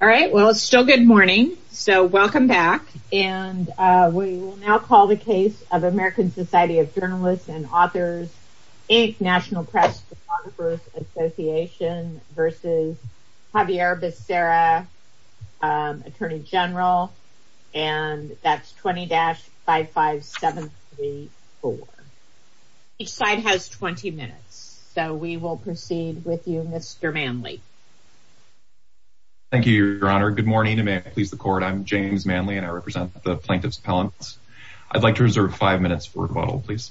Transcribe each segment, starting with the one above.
Alright, well it's still good morning, so welcome back. And we will now call the case of American Society of Journalists and Authors, Inc. National Press Photographers Association v. Xavier Becerra, Attorney General. And that's 20-55734. Each side has 20 minutes, so we will proceed with you Mr. Manley. Thank you, Your Honor. Good morning, and may it please the Court. I'm James Manley, and I represent the Plaintiff's Appellants. I'd like to reserve five minutes for rebuttal, please.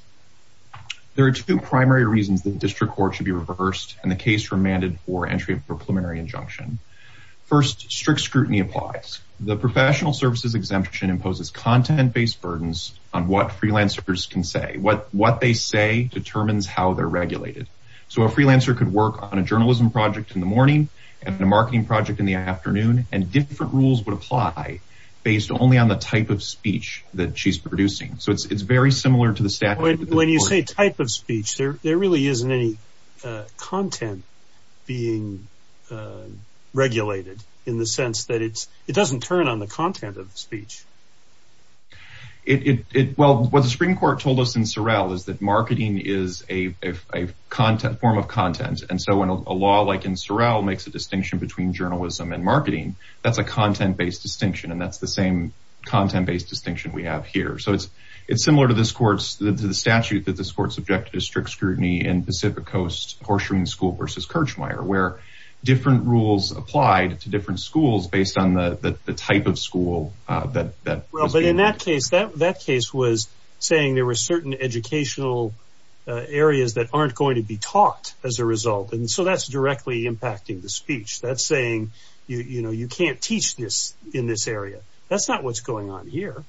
There are two primary reasons that the District Court should be reversed and the case remanded for entry of a preliminary injunction. First, strict scrutiny applies. The professional services exemption imposes content-based burdens on what freelancers can say. What they say determines how they're regulated. So a freelancer could work on a journalism project in the morning and a marketing project in the afternoon, and different rules would apply based only on the type of speech that she's producing. So it's very similar to the statute. When you say type of speech, there really isn't any content being regulated in the sense that it doesn't turn on the content of the speech. Well, what the Supreme Court told us in Sorrell is that marketing is a form of content. And so when a law like in Sorrell makes a distinction between journalism and marketing, that's a content-based distinction, and that's the same content-based distinction we have here. So it's similar to the statute that this Court subjected to strict scrutiny in Pacific Coast Horseshoe School v. Kirchmeier, where different rules applied to different schools based on the type of school. Well, but in that case, that case was saying there were certain educational areas that aren't going to be taught as a result. And so that's directly impacting the speech. That's saying, you know, you can't teach this in this area. That's not what's going on here.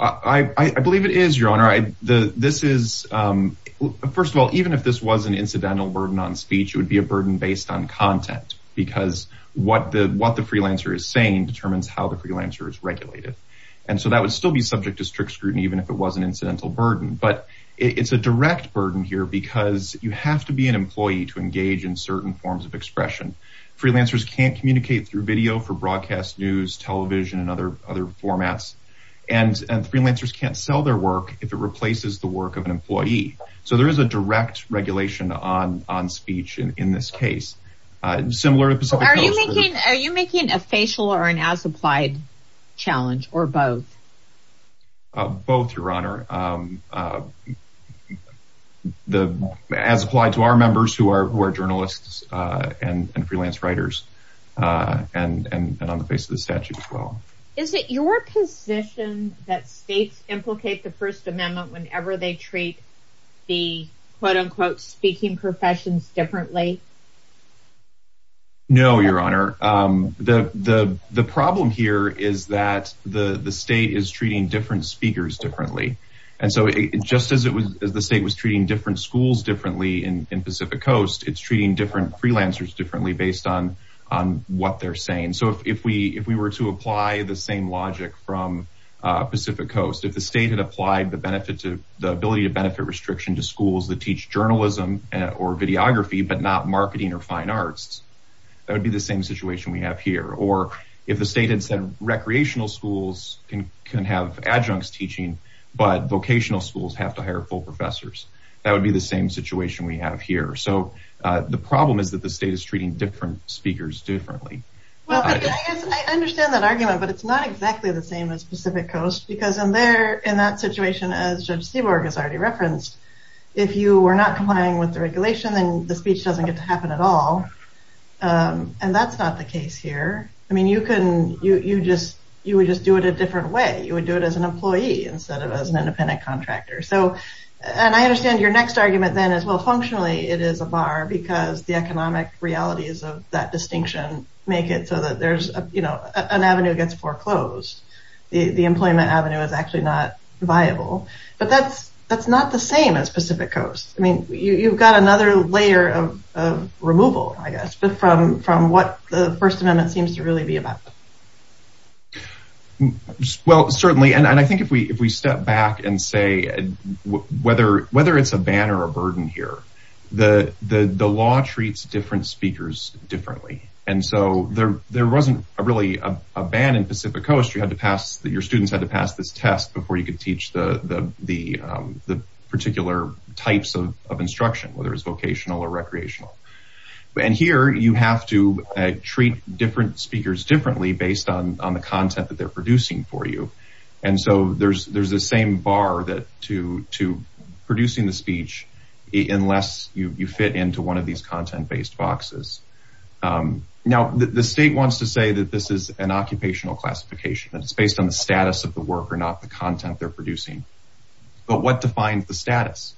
I believe it is, Your Honor. First of all, even if this was an incidental burden on speech, it would be a burden based on content, because what the freelancer is saying determines how the freelancer is regulated. But it's a direct burden here because you have to be an employee to engage in certain forms of expression. Freelancers can't communicate through video for broadcast news, television, and other formats. And freelancers can't sell their work if it replaces the work of an employee. So there is a direct regulation on speech in this case. Are you making a facial or an as-applied challenge, or both? Both, Your Honor. As applied to our members who are journalists and freelance writers, and on the face of the statute as well. Is it your position that states implicate the First Amendment whenever they treat the quote-unquote speaking professions differently? No, Your Honor. The problem here is that the state is treating different speakers differently. And so just as the state was treating different schools differently in Pacific Coast, it's treating different freelancers differently based on what they're saying. So if we were to apply the same logic from Pacific Coast, if the state had applied the ability to benefit restriction to schools that teach journalism or videography, but not marketing or fine arts, that would be the same situation we have here. Or if the state had said recreational schools can have adjuncts teaching, but vocational schools have to hire full professors, that would be the same situation we have here. So the problem is that the state is treating different speakers differently. I understand that argument, but it's not exactly the same as Pacific Coast, because in that situation, as Judge Seaborg has already referenced, if you were not complying with the regulation, then the speech doesn't get to happen at all. And that's not the case here. I mean, you would just do it a different way. You would do it as an employee instead of as an independent contractor. And I understand your next argument then is, well, functionally, it is a bar because the economic realities of that distinction make it so that an avenue gets foreclosed. The employment avenue is actually not viable. But that's not the same as Pacific Coast. I mean, you've got another layer of removal, I guess, from what the First Amendment seems to really be about. Well, certainly. And I think if we step back and say whether it's a ban or a burden here, the law treats different speakers differently. And so there wasn't really a ban in Pacific Coast. Your students had to pass this test before you could teach the particular types of instruction, whether it's vocational or recreational. And here you have to treat different speakers differently based on the content that they're producing for you. And so there's the same bar to producing the speech unless you fit into one of these content-based boxes. Now, the state wants to say that this is an occupational classification and it's based on the status of the worker, not the content they're producing. But what defines the status?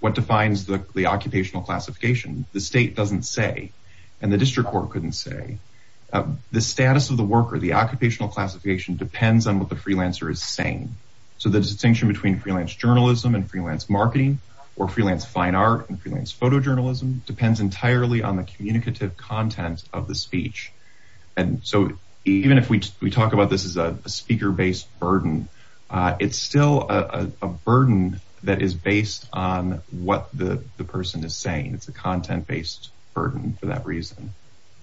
What defines the occupational classification? The state doesn't say. And the district court couldn't say. The status of the worker, the occupational classification, depends on what the freelancer is saying. So the distinction between freelance journalism and freelance marketing or freelance fine art and freelance photojournalism depends entirely on the communicative content of the speech. And so even if we talk about this as a speaker-based burden, it's still a burden that is based on what the person is saying. It's a content-based burden for that reason.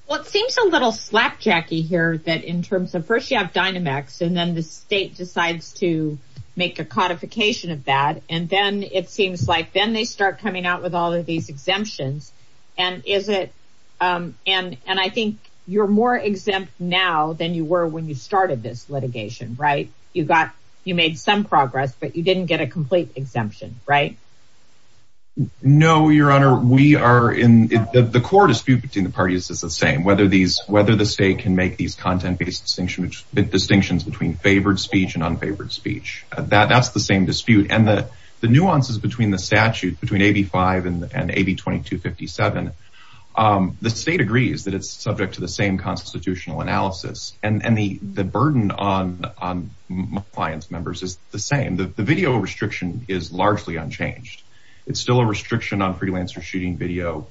Well, it seems a little slapjack-y here that in terms of first you have Dynamex and then the state decides to make a codification of that, and then it seems like then they start coming out with all of these exemptions, and I think you're more exempt now than you were when you started this litigation, right? You made some progress, but you didn't get a complete exemption, right? No, Your Honor. The core dispute between the parties is the same, whether the state can make these content-based distinctions between favored speech and unfavored speech. That's the same dispute. And the nuances between the statute, between AB 5 and AB 2257, the state agrees that it's subject to the same constitutional analysis. And the burden on my client's members is the same. The video restriction is largely unchanged. It's still a restriction on freelancer shooting video,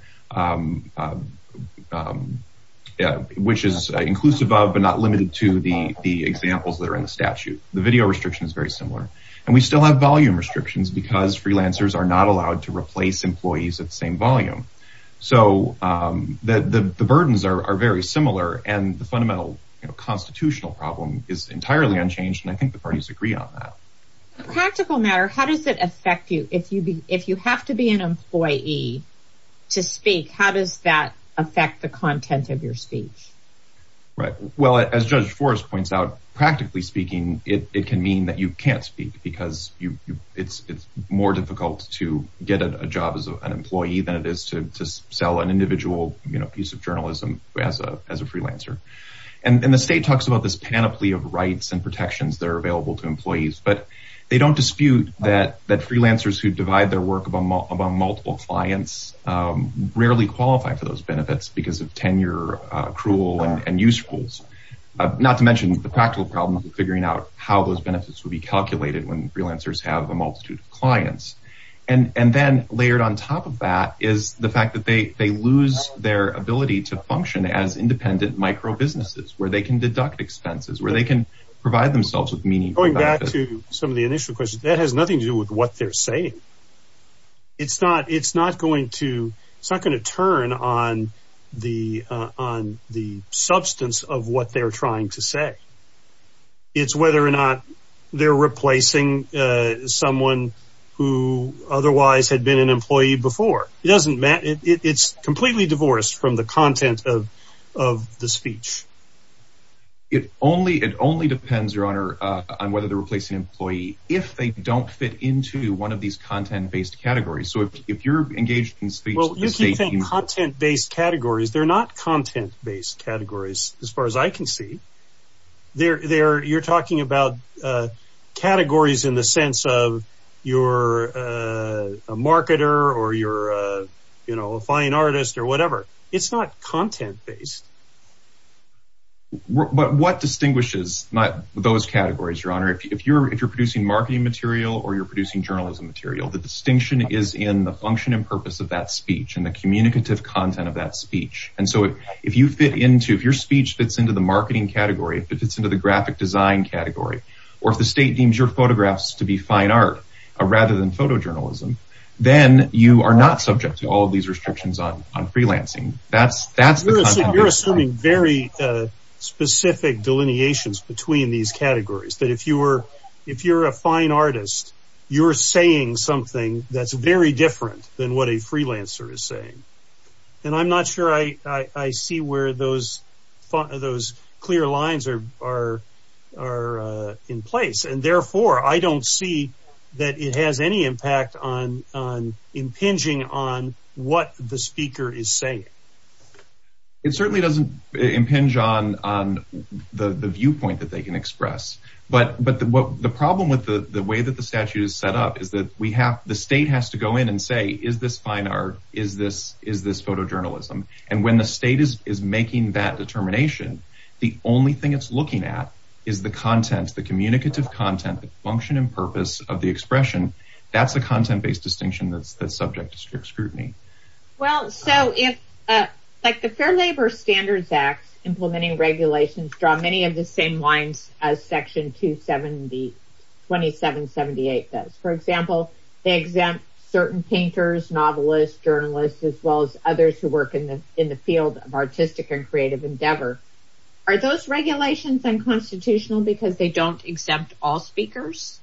which is inclusive of but not limited to the examples that are in the statute. The video restriction is very similar. And we still have volume restrictions because freelancers are not allowed to replace employees at the same volume. So the burdens are very similar. And the fundamental constitutional problem is entirely unchanged, and I think the parties agree on that. Practical matter, how does it affect you? If you have to be an employee to speak, how does that affect the content of your speech? Right. Well, as Judge Forrest points out, practically speaking, it can mean that you can't speak because it's more difficult to get a job as an employee than it is to sell an individual piece of journalism as a freelancer. And the state talks about this panoply of rights and protections that are available to employees. But they don't dispute that freelancers who divide their work among multiple clients rarely qualify for those benefits because of tenure, accrual, and use rules, not to mention the practical problems of figuring out how those benefits would be calculated when freelancers have a multitude of clients. And then layered on top of that is the fact that they lose their ability to function as independent micro-businesses, where they can deduct expenses, where they can provide themselves with meaningful benefits. Going back to some of the initial questions, that has nothing to do with what they're saying. It's not going to turn on the substance of what they're trying to say. It's whether or not they're replacing someone who otherwise had been an employee before. It doesn't matter. It's completely divorced from the content of the speech. It only depends, Your Honor, on whether they're replacing an employee if they don't fit into one of these content-based categories. So if you're engaged in speech, the state can... Well, you keep saying content-based categories. They're not content-based categories as far as I can see. You're talking about categories in the sense of you're a marketer or you're a fine artist or whatever. It's not content-based. But what distinguishes those categories, Your Honor? If you're producing marketing material or you're producing journalism material, the distinction is in the function and purpose of that speech and the communicative content of that speech. And so if your speech fits into the marketing category, if it fits into the graphic design category, or if the state deems your photographs to be fine art rather than photojournalism, then you are not subject to all of these restrictions on freelancing. You're assuming very specific delineations between these categories, that if you're a fine artist, you're saying something that's very different than what a freelancer is saying. And I'm not sure I see where those clear lines are in place. And therefore, I don't see that it has any impact on impinging on what the speaker is saying. It certainly doesn't impinge on the viewpoint that they can express. But the problem with the way that the statute is set up is that the state has to go in and say, is this fine art, is this photojournalism? And when the state is making that determination, the only thing it's looking at is the content, the communicative content, the function and purpose of the expression. That's a content-based distinction that's subject to strict scrutiny. Well, so if the Fair Labor Standards Act, implementing regulations draw many of the same lines as Section 2778 does. For example, they exempt certain painters, novelists, journalists, as well as others who work in the field of artistic and creative endeavor. Are those regulations unconstitutional because they don't exempt all speakers?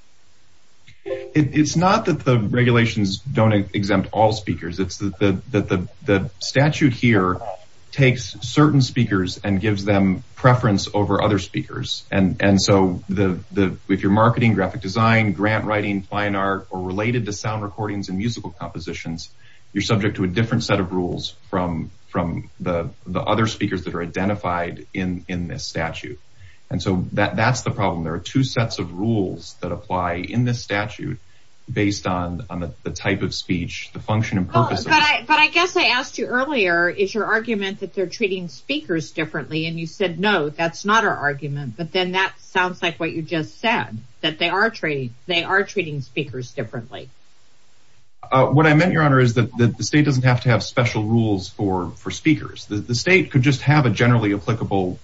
It's not that the regulations don't exempt all speakers. It's that the statute here takes certain speakers and gives them preference over other speakers. And so if you're marketing, graphic design, grant writing, fine art, or related to sound recordings and musical compositions, you're subject to a different set of rules from the other speakers that are identified in this statute. And so that's the problem. There are two sets of rules that apply in this statute based on the type of speech, the function and purpose. But I guess I asked you earlier, is your argument that they're treating speakers differently? And you said, no, that's not our argument. But then that sounds like what you just said, that they are treating speakers differently. What I meant, Your Honor, is that the state doesn't have to have special rules for speakers. The state could just have a generally applicable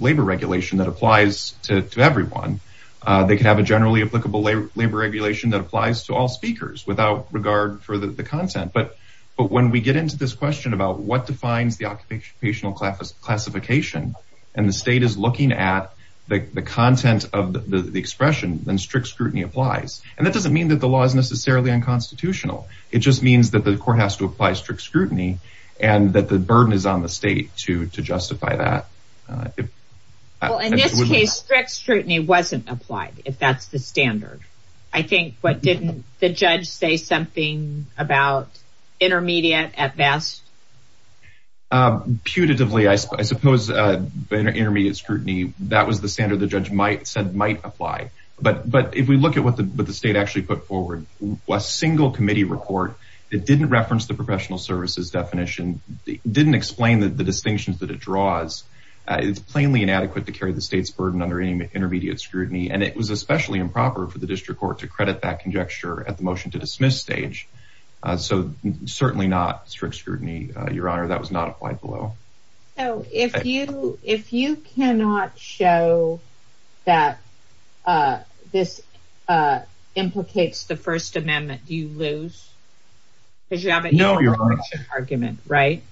labor regulation that applies to everyone. They could have a generally applicable labor regulation that applies to all speakers without regard for the content. But when we get into this question about what defines the occupational classification, and the state is looking at the content of the expression, then strict scrutiny applies. And that doesn't mean that the law is necessarily unconstitutional. It just means that the court has to apply strict scrutiny and that the burden is on the state to justify that. Well, in this case, strict scrutiny wasn't applied, if that's the standard. I think, but didn't the judge say something about intermediate at best? Putatively, I suppose intermediate scrutiny, that was the standard the judge said might apply. But if we look at what the state actually put forward, a single committee report that didn't reference the professional services definition, didn't explain the distinctions that it draws, it's plainly inadequate to carry the state's burden under intermediate scrutiny. And it was especially improper for the district court to credit that conjecture at the motion-to-dismiss stage. So, certainly not strict scrutiny, Your Honor. That was not applied below. So, if you cannot show that this implicates the First Amendment, do you lose? No, Your Honor. Because you have an equal protection argument, right?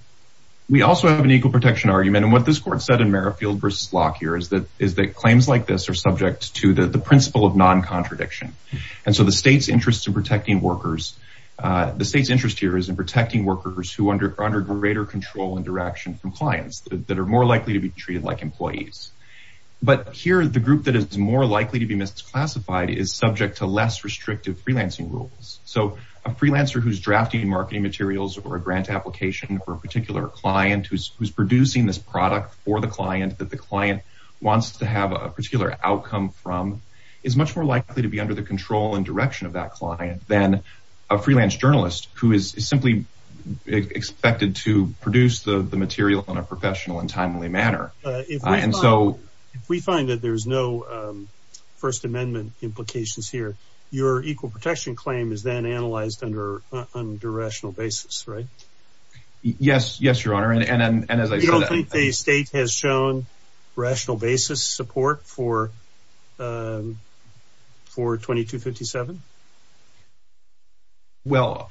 We also have an equal protection argument. And what this court said in Merrifield v. Locke here is that claims like this are subject to the principle of non-contradiction. And so the state's interest in protecting workers, the state's interest here is in protecting workers who are under greater control and direction from clients that are more likely to be treated like employees. But here, the group that is more likely to be misclassified is subject to less restrictive freelancing rules. So, a freelancer who's drafting marketing materials or a grant application for a particular client who's producing this product for the client that the client wants to have a particular outcome from is much more likely to be under the control and direction of that client than a freelance journalist who is simply expected to produce the material in a professional and timely manner. If we find that there's no First Amendment implications here, your equal protection claim is then analyzed under rational basis, right? Yes, Your Honor. You don't think the state has shown rational basis support for 2257? Well,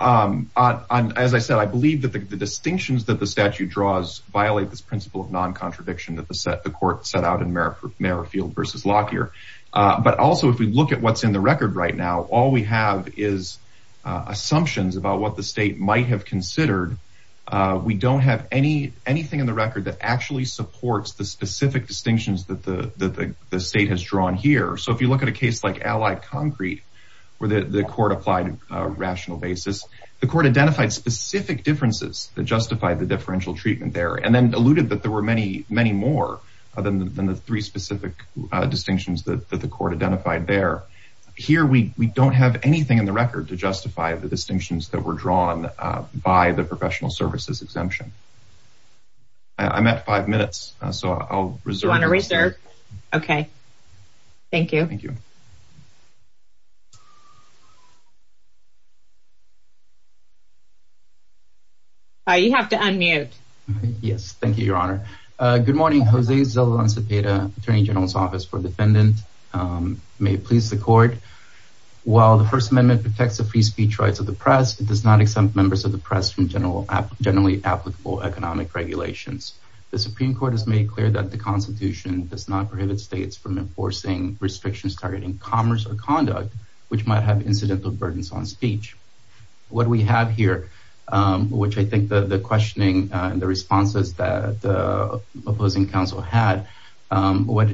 as I said, I believe that the distinctions that the statute draws violate this principle of non-contradiction that the court set out in Merrifield v. Locke here. But also, if we look at what's in the record right now, all we have is assumptions about what the state might have considered. We don't have anything in the record that actually supports the specific distinctions that the state has drawn here. So, if you look at a case like Allied Concrete where the court applied rational basis, the court identified specific differences that justified the differential treatment there and then alluded that there were many more than the three specific distinctions that the court identified there. Here, we don't have anything in the record to justify the distinctions that were drawn by the professional services exemption. I'm at five minutes, so I'll reserve. You want to reserve? Okay. Thank you. Thank you. You have to unmute. Yes, thank you, Your Honor. Good morning. Jose Zelon Zapata, Attorney General's Office for Defendant. May it please the court. While the First Amendment protects the free speech rights of the press, it does not exempt members of the press from generally applicable economic regulations. The Supreme Court has made clear that the Constitution does not prohibit states from enforcing restrictions targeting commerce or conduct, which might have incidental burdens on speech. What we have here, which I think the questioning and the responses that the opposing counsel had, what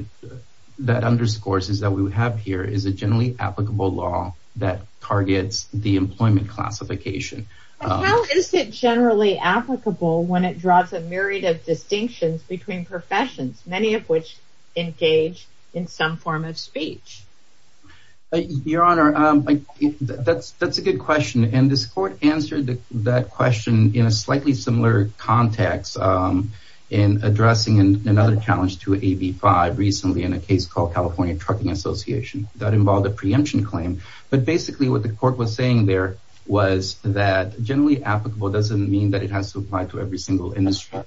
that underscores is that we have here is a generally applicable law that targets the employment classification. How is it generally applicable when it draws a myriad of distinctions between professions, many of which engage in some form of speech? Your Honor, that's a good question. And this court answered that question in a slightly similar context in addressing another challenge to AB 5 recently in a case called California Trucking Association that involved a preemption claim. But basically what the court was saying there was that generally applicable doesn't mean that it has to apply to every single industry.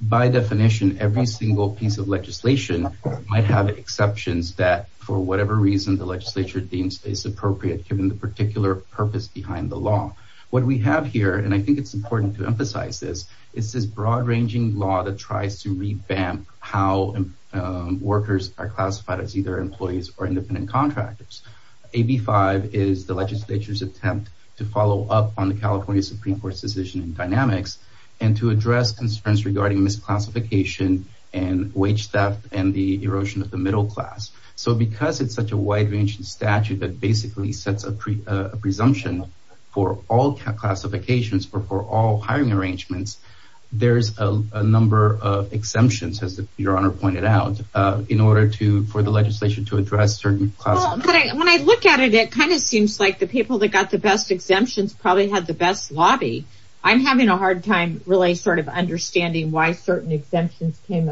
By definition, every single piece of legislation might have exceptions that for whatever reason the legislature deems is appropriate given the particular purpose behind the law. What we have here, and I think it's important to emphasize this, is this broad-ranging law that tries to revamp how workers are classified as either employees or independent contractors. AB 5 is the legislature's attempt to follow up on the California Supreme Court's decision in dynamics and to address concerns regarding misclassification and wage theft and the erosion of the middle class. So because it's such a wide-ranging statute that basically sets a presumption for all classifications or for all hiring arrangements, there's a number of exemptions, as Your Honor pointed out, in order for the legislation to address certain classifications. When I look at it, it kind of seems like the people that got the best exemptions probably had the best lobby. I'm having a hard time really sort of understanding why certain exemptions came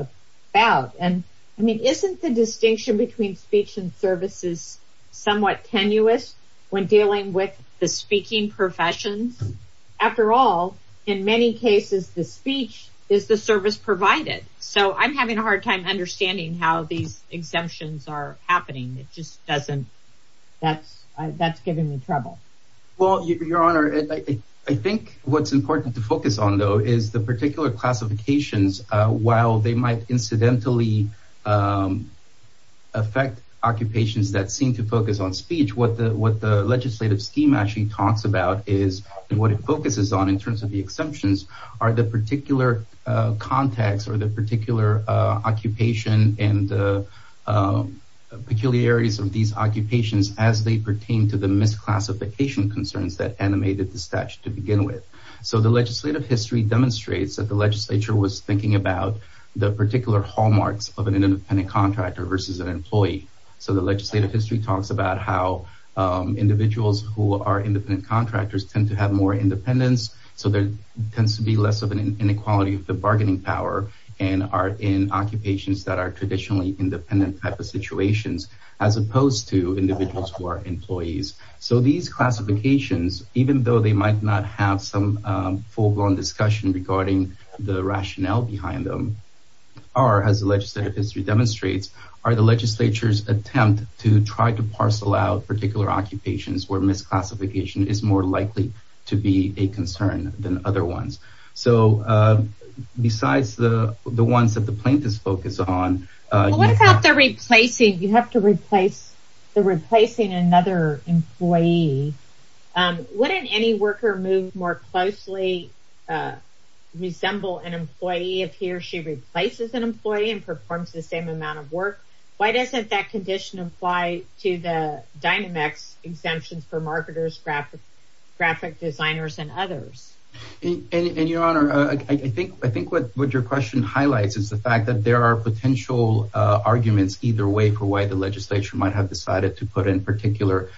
about. I mean, isn't the distinction between speech and services somewhat tenuous when dealing with the speaking professions? After all, in many cases, the speech is the service provided. So I'm having a hard time understanding how these exemptions are happening. It just doesn't... that's giving me trouble. Well, Your Honor, I think what's important to focus on, though, is the particular classifications, while they might incidentally affect occupations that seem to focus on speech, what the legislative scheme actually talks about is and what it focuses on in terms of the exemptions are the particular context or the particular occupation and peculiarities of these occupations as they pertain to the misclassification concerns that animated the statute to begin with. So the legislative history demonstrates that the legislature was thinking about the particular hallmarks of an independent contractor versus an employee. So the legislative history talks about how individuals who are independent contractors tend to have more independence. So there tends to be less of an inequality of the bargaining power in occupations that are traditionally independent type of situations as opposed to individuals who are employees. So these classifications, even though they might not have some full-blown discussion regarding the rationale behind them, are, as the legislative history demonstrates, are the legislature's attempt to try to parcel out particular occupations where misclassification is more likely to be a concern than other ones. So besides the ones that the plaintiffs focus on... What about the replacing? You have to replace another employee. Wouldn't any worker move more closely resemble an employee if he or she replaces an employee and performs the same amount of work? Why doesn't that condition apply to the Dynamex exemptions for marketers, graphic designers, and others? And, Your Honor, I think what your question highlights is the fact that there are potential arguments either way for why the legislature might have decided to put in particular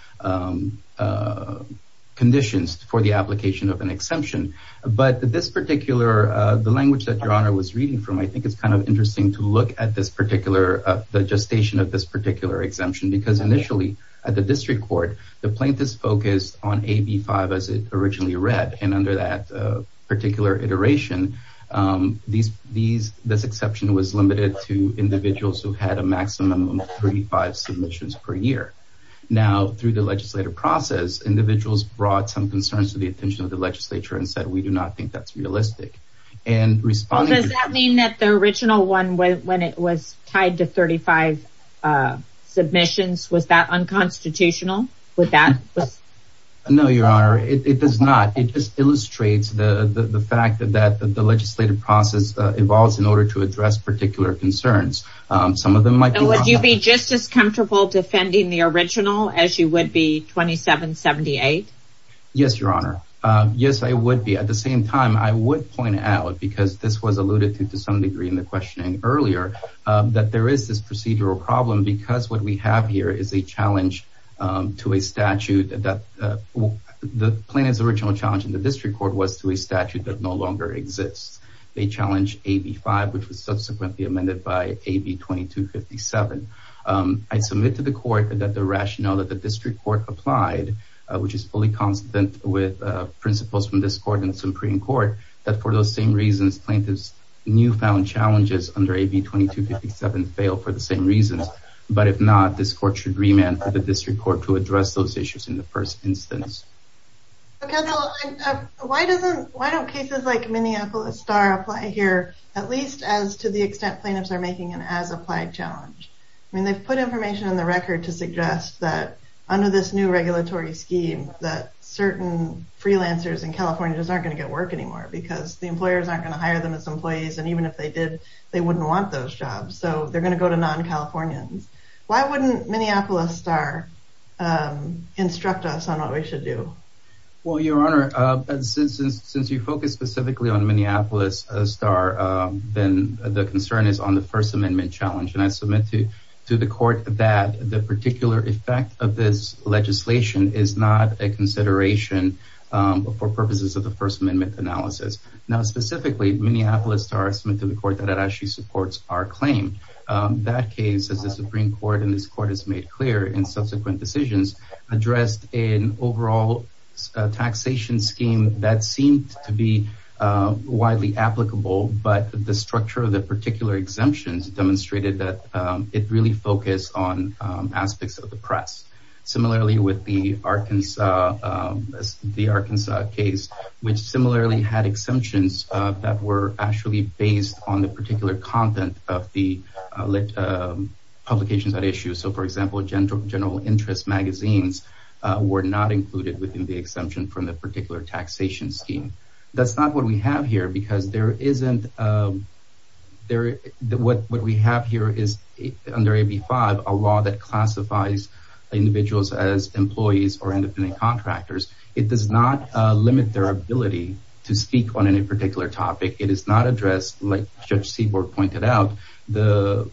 conditions for the application of an exemption. But this particular, the language that Your Honor was reading from, I think it's kind of interesting to look at this particular, the gestation of this particular exemption because initially at the district court, the plaintiffs focused on AB5 as it originally read, and under that particular iteration, this exception was limited to individuals who had a maximum of 35 submissions per year. Now, through the legislative process, individuals brought some concerns to the attention of the legislature and said, we do not think that's realistic. Does that mean that the original one, when it was tied to 35 submissions, was that unconstitutional? No, Your Honor, it does not. It just illustrates the fact that the legislative process evolves in order to address particular concerns. And would you be just as comfortable defending the original as you would be 2778? Yes, Your Honor. Yes, I would be. At the same time, I would point out, because this was alluded to to some degree in the questioning earlier, that there is this procedural problem because what we have here is a challenge to a statute that the plaintiff's original challenge in the district court was to a statute that no longer exists. They challenged AB 5, which was subsequently amended by AB 2257. I submit to the court that the rationale that the district court applied, which is fully consistent with principles from this court and the Supreme Court, that for those same reasons, plaintiffs' newfound challenges under AB 2257 fail for the same reasons. But if not, this court should remand for the district court to address those issues in the first instance. Why don't cases like Minneapolis Star apply here, at least as to the extent plaintiffs are making an as-applied challenge? I mean, they've put information on the record to suggest that under this new regulatory scheme, that certain freelancers in California just aren't going to get work anymore because the employers aren't going to hire them as employees, and even if they did, they wouldn't want those jobs. So they're going to go to non-Californians. Why wouldn't Minneapolis Star instruct us on what we should do? Well, Your Honor, since you focused specifically on Minneapolis Star, then the concern is on the First Amendment challenge, and I submit to the court that the particular effect of this legislation is not a consideration for purposes of the First Amendment analysis. Now, specifically, Minneapolis Star submits to the court that it actually supports our claim. That case, as the Supreme Court and this court has made clear in subsequent decisions, addressed an overall taxation scheme that seemed to be widely applicable, but the structure of the particular exemptions demonstrated that it really focused on aspects of the press. Similarly with the Arkansas case, which similarly had exemptions that were actually based on the particular content of the publications at issue. So, for example, general interest magazines were not included within the exemption from the particular taxation scheme. That's not what we have here because what we have here is, under AB 5, a law that classifies individuals as employees or independent contractors. It does not limit their ability to speak on any particular topic. It is not addressed, like Judge Seaborg pointed out, the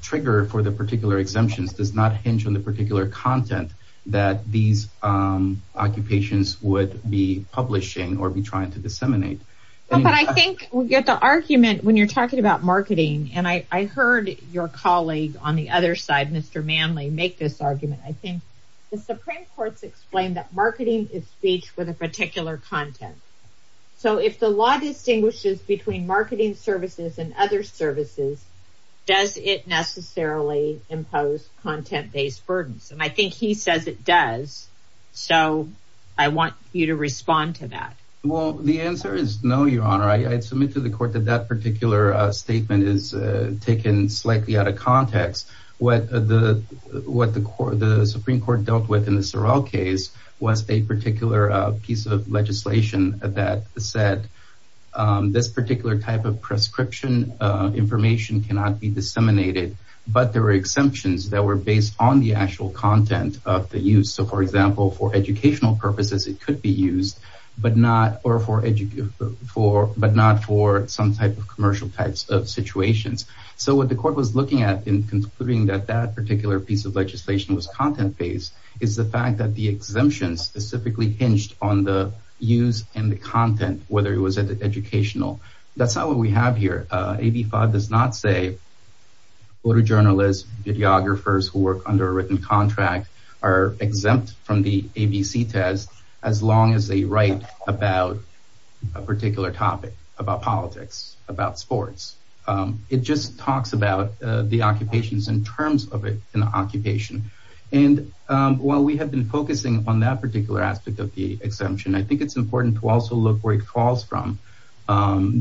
trigger for the particular exemptions does not hinge on the particular content that these occupations would be publishing or be trying to disseminate. But I think we get the argument when you're talking about marketing, and I heard your colleague on the other side, Mr. Manley, make this argument. I think the Supreme Court's explained that marketing is speech with a particular content. So, if the law distinguishes between marketing services and other services, does it necessarily impose content-based burdens? And I think he says it does, so I want you to respond to that. Well, the answer is no, Your Honor. I submit to the Court that that particular statement is taken slightly out of context. What the Supreme Court dealt with in the Sorrell case was a particular piece of legislation that said this particular type of prescription information cannot be disseminated, but there were exemptions that were based on the actual content of the use. So, for example, for educational purposes, it could be used, but not for some type of commercial types of situations. So, what the Court was looking at in concluding that that particular piece of legislation was content-based is the fact that the exemption specifically hinged on the use and the content, whether it was educational. That's not what we have here. AB 5 does not say photojournalists, videographers who work under a written contract are exempt from the ABC test as long as they write about a particular topic, about politics, about sports. It just talks about the occupations in terms of an occupation, and while we have been focusing on that particular aspect of the exemption, I think it's important to also look where it falls from.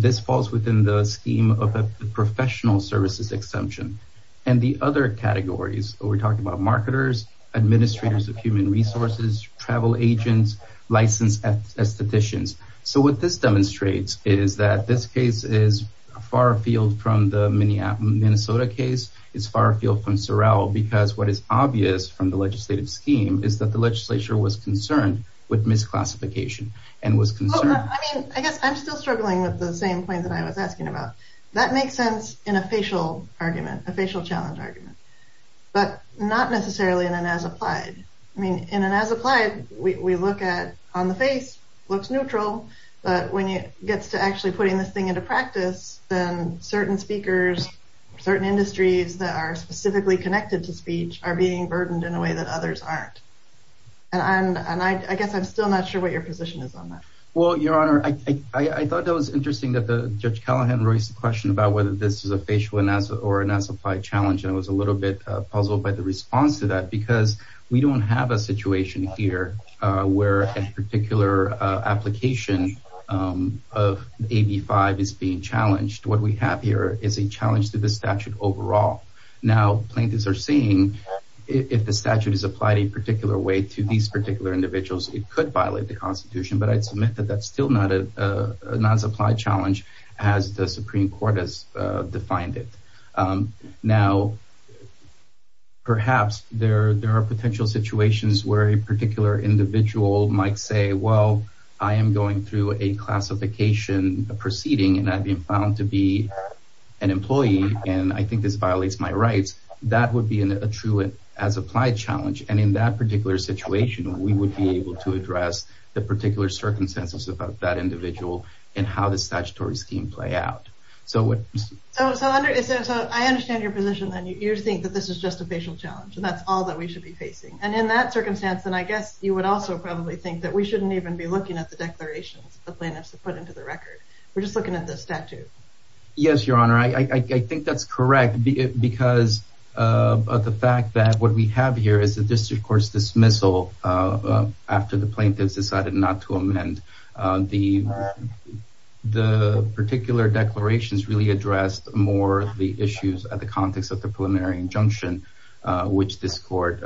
This falls within the scheme of a professional services exemption, and the other categories. We're talking about marketers, administrators of human resources, travel agents, licensed estheticians. So, what this demonstrates is that this case is far afield from the Minnesota case. It's far afield from Sorrell because what is obvious from the legislative scheme is that the legislature was concerned with misclassification and was concerned... I mean, I guess I'm still struggling with the same points that I was asking about. That makes sense in a facial argument, a facial challenge argument, but not necessarily in an as-applied. I mean, in an as-applied, we look at on the face, looks neutral, but when it gets to actually putting this thing into practice, then certain speakers, certain industries that are specifically connected to speech are being burdened in a way that others aren't. And I guess I'm still not sure what your position is on that. Well, Your Honor, I thought that was interesting that Judge Callahan raised the question about whether this is a facial or an as-applied challenge, and I was a little bit puzzled by the response to that because we don't have a situation here where a particular application of AB 5 is being challenged. What we have here is a challenge to the statute overall. Now, plaintiffs are seeing if the statute is applied a particular way to these particular individuals, it could violate the Constitution, but I'd submit that that's still not an as-applied challenge as the Supreme Court has defined it. Now, perhaps there are potential situations where a particular individual might say, well, I am going through a classification proceeding and I've been found to be an employee, and I think this violates my rights. That would be a true as-applied challenge, and in that particular situation, we would be able to address the particular circumstances of that individual and how the statutory scheme play out. So, I understand your position that you think that this is just a facial challenge and that's all that we should be facing, and in that circumstance, then I guess you would also probably think that we shouldn't even be looking at the declarations the plaintiffs have put into the record. We're just looking at the statute. Yes, Your Honor. I think that's correct because of the fact that what we have here is the district court's dismissal after the plaintiffs decided not to amend. The particular declarations really addressed more the issues at the context of the preliminary injunction, which this court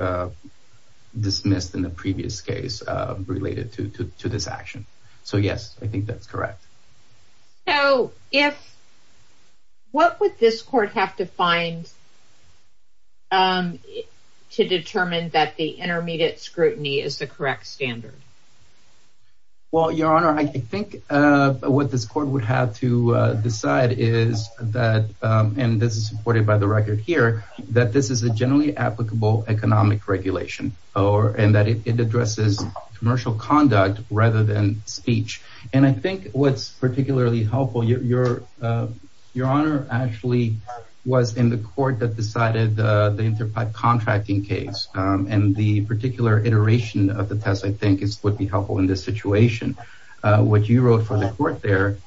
dismissed in the previous case related to this action. So, yes, I think that's correct. So, what would this court have to find to determine that the intermediate scrutiny is the correct standard? Well, Your Honor, I think what this court would have to decide is that, and this is supported by the record here, that this is a generally applicable economic regulation and that it addresses commercial conduct rather than speech. And I think what's particularly helpful, Your Honor, actually was in the court that decided the inter-contracting case, and the particular iteration of the test, I think, would be helpful in this situation. What you wrote for the court there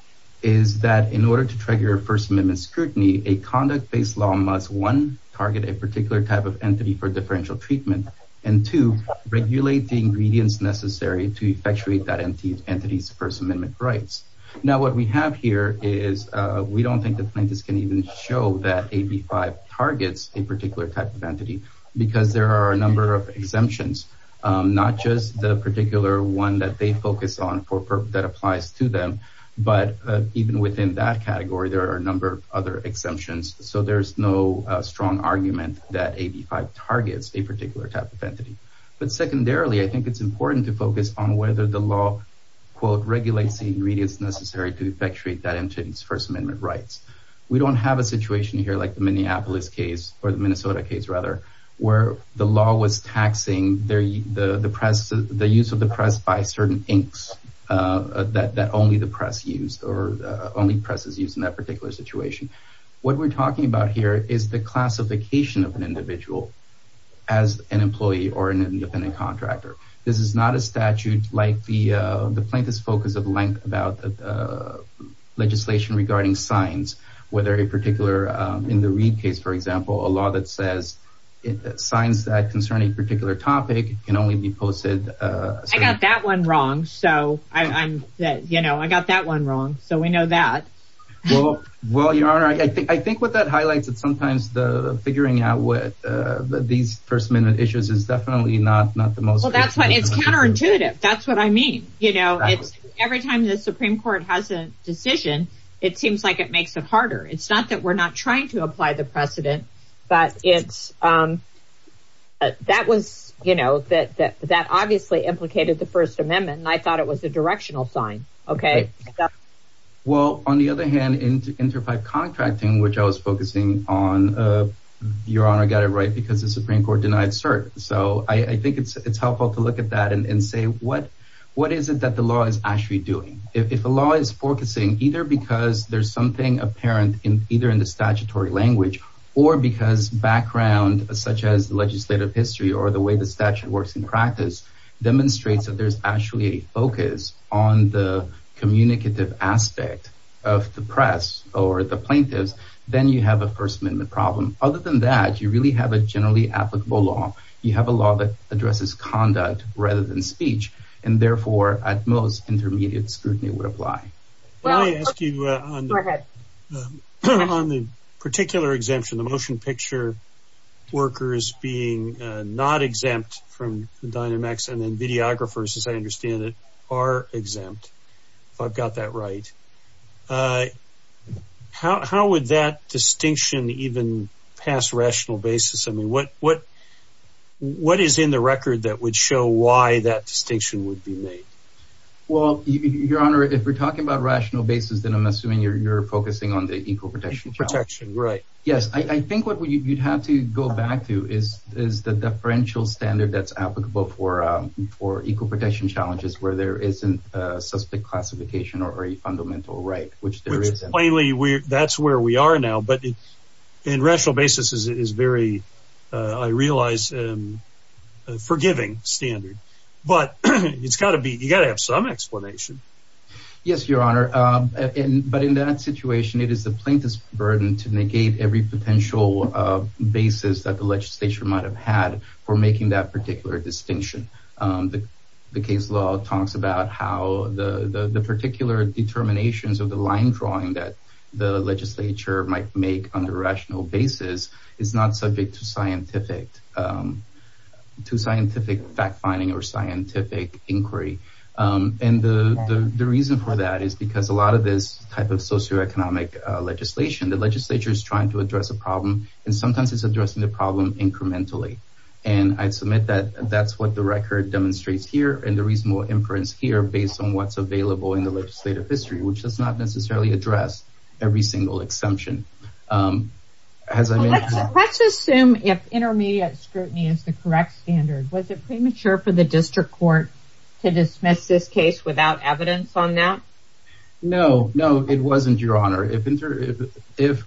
is that in order to trigger First Amendment scrutiny, a conduct-based law must, one, target a particular type of entity for differential treatment, and two, regulate the ingredients necessary to effectuate that entity's First Amendment rights. Now, what we have here is we don't think the plaintiffs can even show that AB 5 targets a particular type of entity because there are a number of exemptions, not just the particular one that they focus on that applies to them, but even within that category, there are a number of other exemptions. So there's no strong argument that AB 5 targets a particular type of entity. But secondarily, I think it's important to focus on whether the law, quote, regulates the ingredients necessary to effectuate that entity's First Amendment rights. We don't have a situation here like the Minneapolis case, or the Minnesota case, rather, where the law was taxing the use of the press by certain inks that only the press used, or only presses used in that particular situation. What we're talking about here is the classification of an individual as an employee or an independent contractor. This is not a statute like the plaintiff's focus of length about legislation regarding signs, whether a particular, in the Reed case, for example, a law that says signs that concern a particular topic can only be posted. I got that one wrong, so I'm, you know, I got that one wrong, so we know that. Well, Your Honor, I think what that highlights is sometimes the figuring out what these first-minute issues is definitely not the most— Well, that's what—it's counterintuitive. That's what I mean. You know, every time the Supreme Court has a decision, it seems like it makes it harder. It's not that we're not trying to apply the precedent, but it's—that was, you know, that obviously implicated the First Amendment, and I thought it was a directional sign, okay? Well, on the other hand, Interfive Contracting, which I was focusing on, Your Honor got it right because the Supreme Court denied cert. So I think it's helpful to look at that and say, what is it that the law is actually doing? If a law is focusing either because there's something apparent in either in the statutory language or because background such as legislative history or the way the statute works in practice demonstrates that there's actually a focus on the communicative aspect of the press or the plaintiffs, then you have a First Amendment problem. Other than that, you really have a generally applicable law. You have a law that addresses conduct rather than speech, and therefore, at most, intermediate scrutiny would apply. Let me ask you on the particular exemption, the motion picture workers being not exempt from Dynamex, and then videographers, as I understand it, are exempt, if I've got that right. How would that distinction even pass rational basis? I mean, what is in the record that would show why that distinction would be made? Well, Your Honor, if we're talking about rational basis, then I'm assuming you're focusing on the equal protection challenge. Equal protection, right. Yes, I think what you'd have to go back to is the differential standard that's applicable for equal protection challenges where there isn't a suspect classification or a fundamental right, which there isn't. Which plainly, that's where we are now, but in rational basis is very, I realize, forgiving standard. But it's got to be, you got to have some explanation. Yes, Your Honor. But in that situation, it is the plaintiff's burden to negate every potential basis that the legislature might have had for making that particular distinction. The case law talks about how the particular determinations of the line drawing that the legislature might make on the rational basis is not subject to scientific fact finding or scientific inquiry. And the reason for that is because a lot of this type of socioeconomic legislation, the legislature is trying to address a problem. And sometimes it's addressing the problem incrementally. And I'd submit that that's what the record demonstrates here. And there is more inference here based on what's available in the legislative history, which does not necessarily address every single exemption. Let's assume if intermediate scrutiny is the correct standard. Was it premature for the district court to dismiss this case without evidence on that? No, no, it wasn't, Your Honor. Since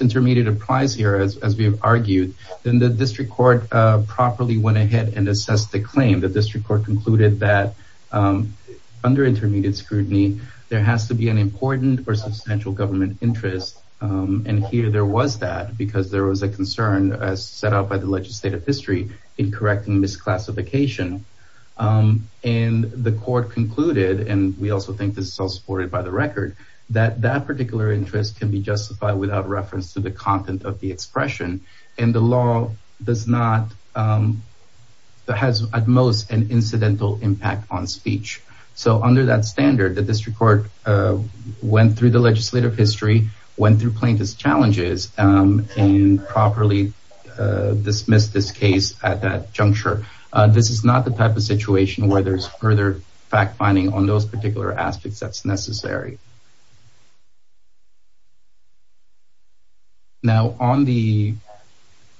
intermediate applies here, as we have argued, then the district court properly went ahead and assessed the claim. The district court concluded that under intermediate scrutiny, there has to be an important or substantial government interest. And here there was that because there was a concern set up by the legislative history in correcting misclassification. And the court concluded, and we also think this is all supported by the record, that that particular interest can be justified without reference to the content of the expression. And the law does not, has at most an incidental impact on speech. So under that standard, the district court went through the legislative history, went through plaintiff's challenges and properly dismissed this case at that juncture. This is not the type of situation where there's further fact finding on those particular aspects that's necessary. Now, on the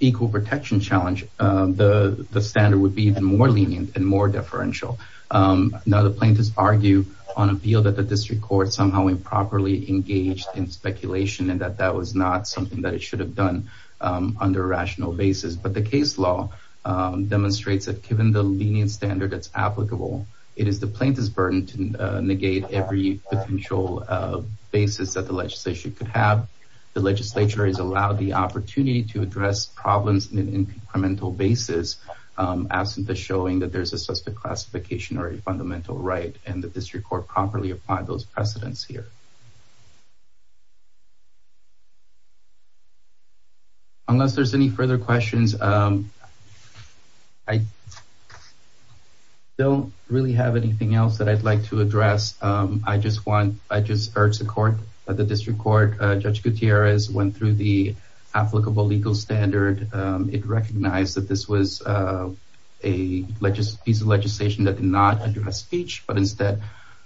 equal protection challenge, the standard would be even more lenient and more deferential. Now, the plaintiffs argue on appeal that the district court somehow improperly engaged in speculation and that that was not something that it should have done under a rational basis. But the case law demonstrates that given the lenient standard, it's applicable. It is the plaintiff's burden to negate every potential basis that the legislation could have. The legislature is allowed the opportunity to address problems in an incremental basis, as in the showing that there's a specific classification or a fundamental right and the district court properly applied those precedents here. Unless there's any further questions, I don't really have anything else that I'd like to address. I just want I just urge the court, the district court. Judge Gutierrez went through the applicable legal standard. It recognized that this was a piece of legislation that did not address speech, but instead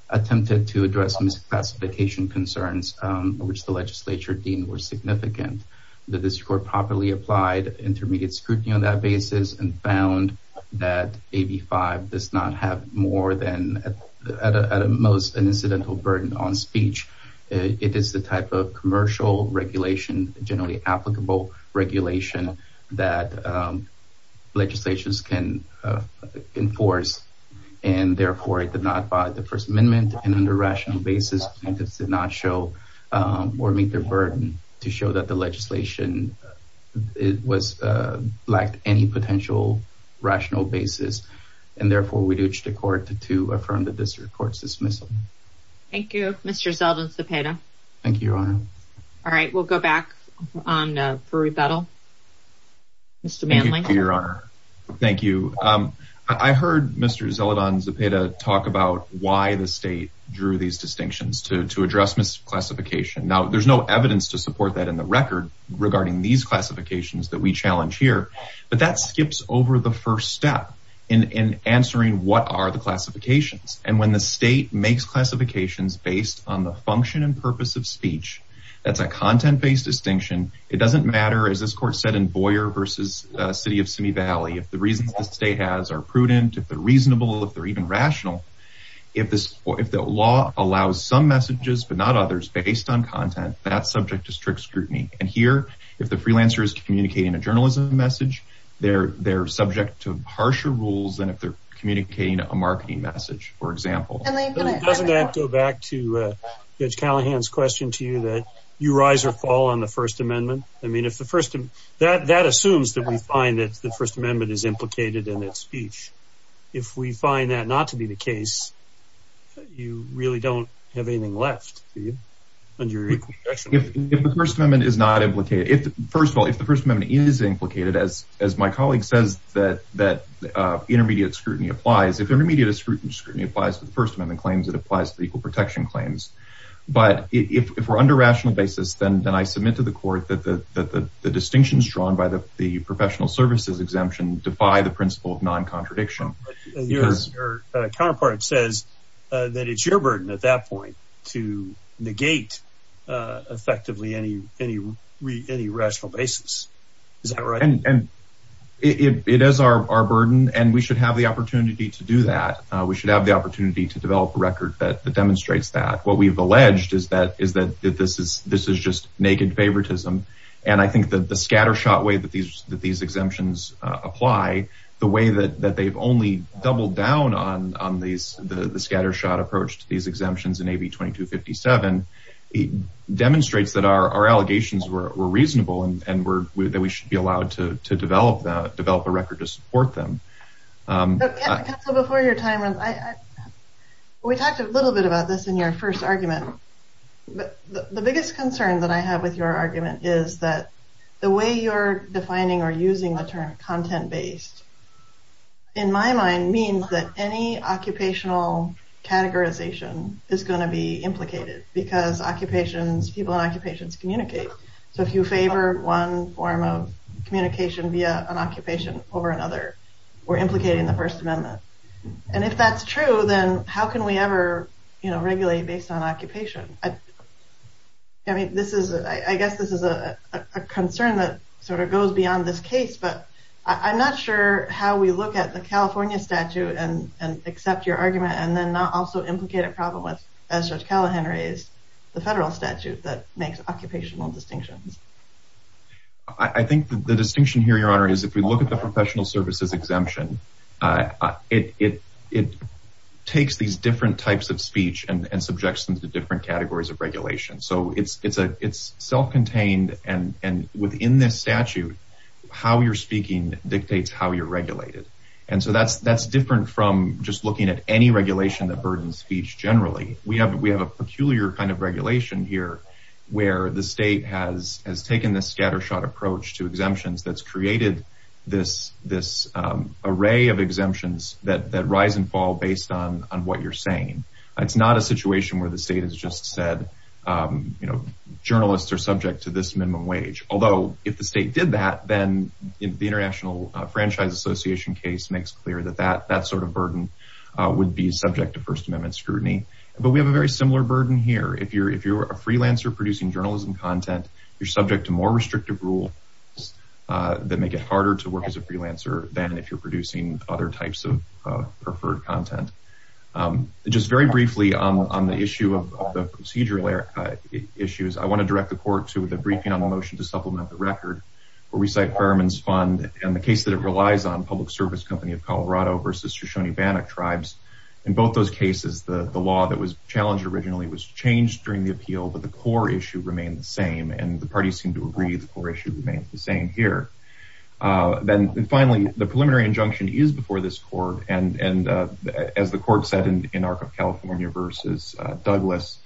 attempted to address misclassification concerns, which the legislature deemed were significant. The district court properly applied intermediate scrutiny on that basis and found that AB 5 does not have more than at most an incidental burden on speech. It is the type of commercial regulation, generally applicable regulation that legislations can enforce. And therefore, it did not buy the First Amendment. And under rational basis, plaintiffs did not show or meet their burden to show that the legislation was like any potential rational basis. And therefore, we reach the court to to affirm the district court's dismissal. Thank you, Mr. Zeldin Zepeda. Thank you. All right. We'll go back on for rebuttal. Mr. Manley, your honor. Thank you. I heard Mr. Zeldin Zepeda talk about why the state drew these distinctions to to address misclassification. Now, there's no evidence to support that in the record regarding these classifications that we challenge here. But that skips over the first step in answering what are the classifications. And when the state makes classifications based on the function and purpose of speech, that's a content based distinction. It doesn't matter, as this court said in Boyer versus city of Simi Valley, if the reasons the state has are prudent, if they're reasonable, if they're even rational. If the law allows some messages, but not others based on content, that's subject to strict scrutiny. And here, if the freelancer is communicating a journalism message, they're they're subject to harsher rules than if they're communicating a marketing message, for example. Doesn't that go back to Judge Callahan's question to you that you rise or fall on the First Amendment? I mean, if the first that that assumes that we find that the First Amendment is implicated in its speech, if we find that not to be the case, you really don't have anything left. If the First Amendment is not implicated, if first of all, if the First Amendment is implicated, as as my colleague says, that that intermediate scrutiny applies. If intermediate scrutiny applies to the First Amendment claims, it applies to equal protection claims. But if we're under rational basis, then then I submit to the court that the distinctions drawn by the professional services exemption defy the principle of non-contradiction. Your counterpart says that it's your burden at that point to negate effectively any any any rational basis. Is that right? And it is our burden. And we should have the opportunity to do that. We should have the opportunity to develop a record that demonstrates that what we've alleged is that is that this is this is just naked favoritism. And I think that the scattershot way that these that these exemptions apply, the way that that they've only doubled down on on these, the scattershot approach to these exemptions in AB 2257 demonstrates that our allegations were reasonable and that we should be allowed to develop that develop a record to support them. Before your time runs, we talked a little bit about this in your first argument. But the biggest concern that I have with your argument is that the way you're defining or using the term content based, in my mind, means that any occupational categorization is going to be implicated because occupations, people in occupations communicate. So if you favor one form of communication via an occupation over another, we're implicating the First Amendment. And if that's true, then how can we ever regulate based on occupation? I mean, this is I guess this is a concern that sort of goes beyond this case, but I'm not sure how we look at the California statute and accept your argument and then not also implicate a problem with as such. Callahan raised the federal statute that makes occupational distinctions. I think the distinction here, Your Honor, is if we look at the professional services exemption, it it takes these different types of speech and subjects them to different categories of regulation. So it's it's a it's self-contained. And within this statute, how you're speaking dictates how you're regulated. And so that's that's different from just looking at any regulation that burdens speech. Generally, we have we have a peculiar kind of regulation here where the state has has taken this scattershot approach to exemptions that's created this this array of exemptions that that rise and fall based on on what you're saying. It's not a situation where the state has just said, you know, journalists are subject to this minimum wage. Although if the state did that, then the International Franchise Association case makes clear that that that sort of burden would be subject to First Amendment scrutiny. But we have a very similar burden here. If you're if you're a freelancer producing journalism content, you're subject to more restrictive rules that make it harder to work as a freelancer than if you're producing other types of preferred content. Just very briefly on the issue of the procedural issues, I want to direct the court to the briefing on the motion to supplement the record where we cite Fairman's Fund and the case that it relies on public service company of Colorado versus Shoshone-Bannock tribes. In both those cases, the law that was challenged originally was changed during the appeal, but the core issue remained the same and the parties seem to agree the core issue remains the same here. Then finally, the preliminary injunction is before this court. And as the court said in Arc of California versus Douglas,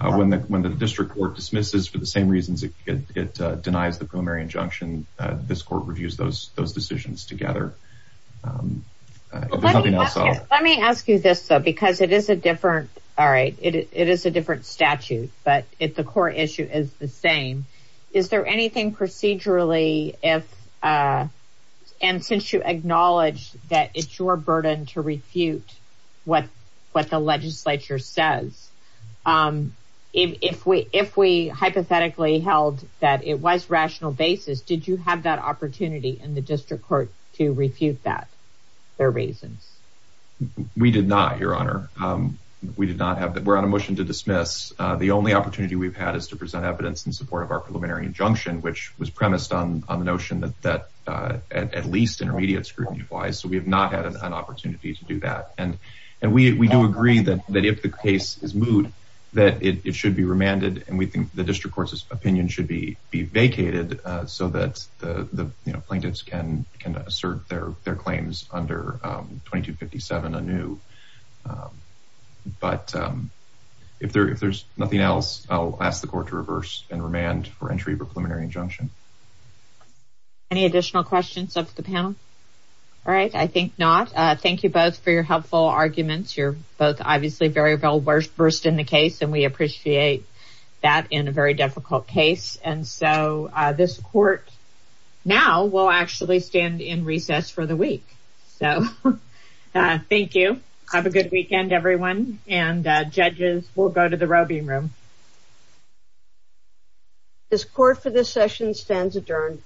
when the district court dismisses for the same reasons it denies the preliminary injunction, this court reviews those those decisions together. Let me ask you this, though, because it is a different. All right. It is a different statute. But if the core issue is the same, is there anything procedurally if and since you acknowledge that it's your burden to refute what what the legislature says, if we if we hypothetically held that it was rational basis, did you have that opportunity in the district court to refute that? Their reasons? We did not, Your Honor. We did not have that. We're on a motion to dismiss. The only opportunity we've had is to present evidence in support of our preliminary injunction, which was premised on the notion that that at least intermediate scrutiny applies. Any additional questions of the panel? All right. I think not. Thank you both for your helpful arguments. You're both obviously very well versed in the case, and we appreciate that in a very difficult case. And so this court now will actually stand in recess for the week. So thank you. Have a good weekend, everyone. And judges, we'll go to the roving room. This court for this session stands adjourned.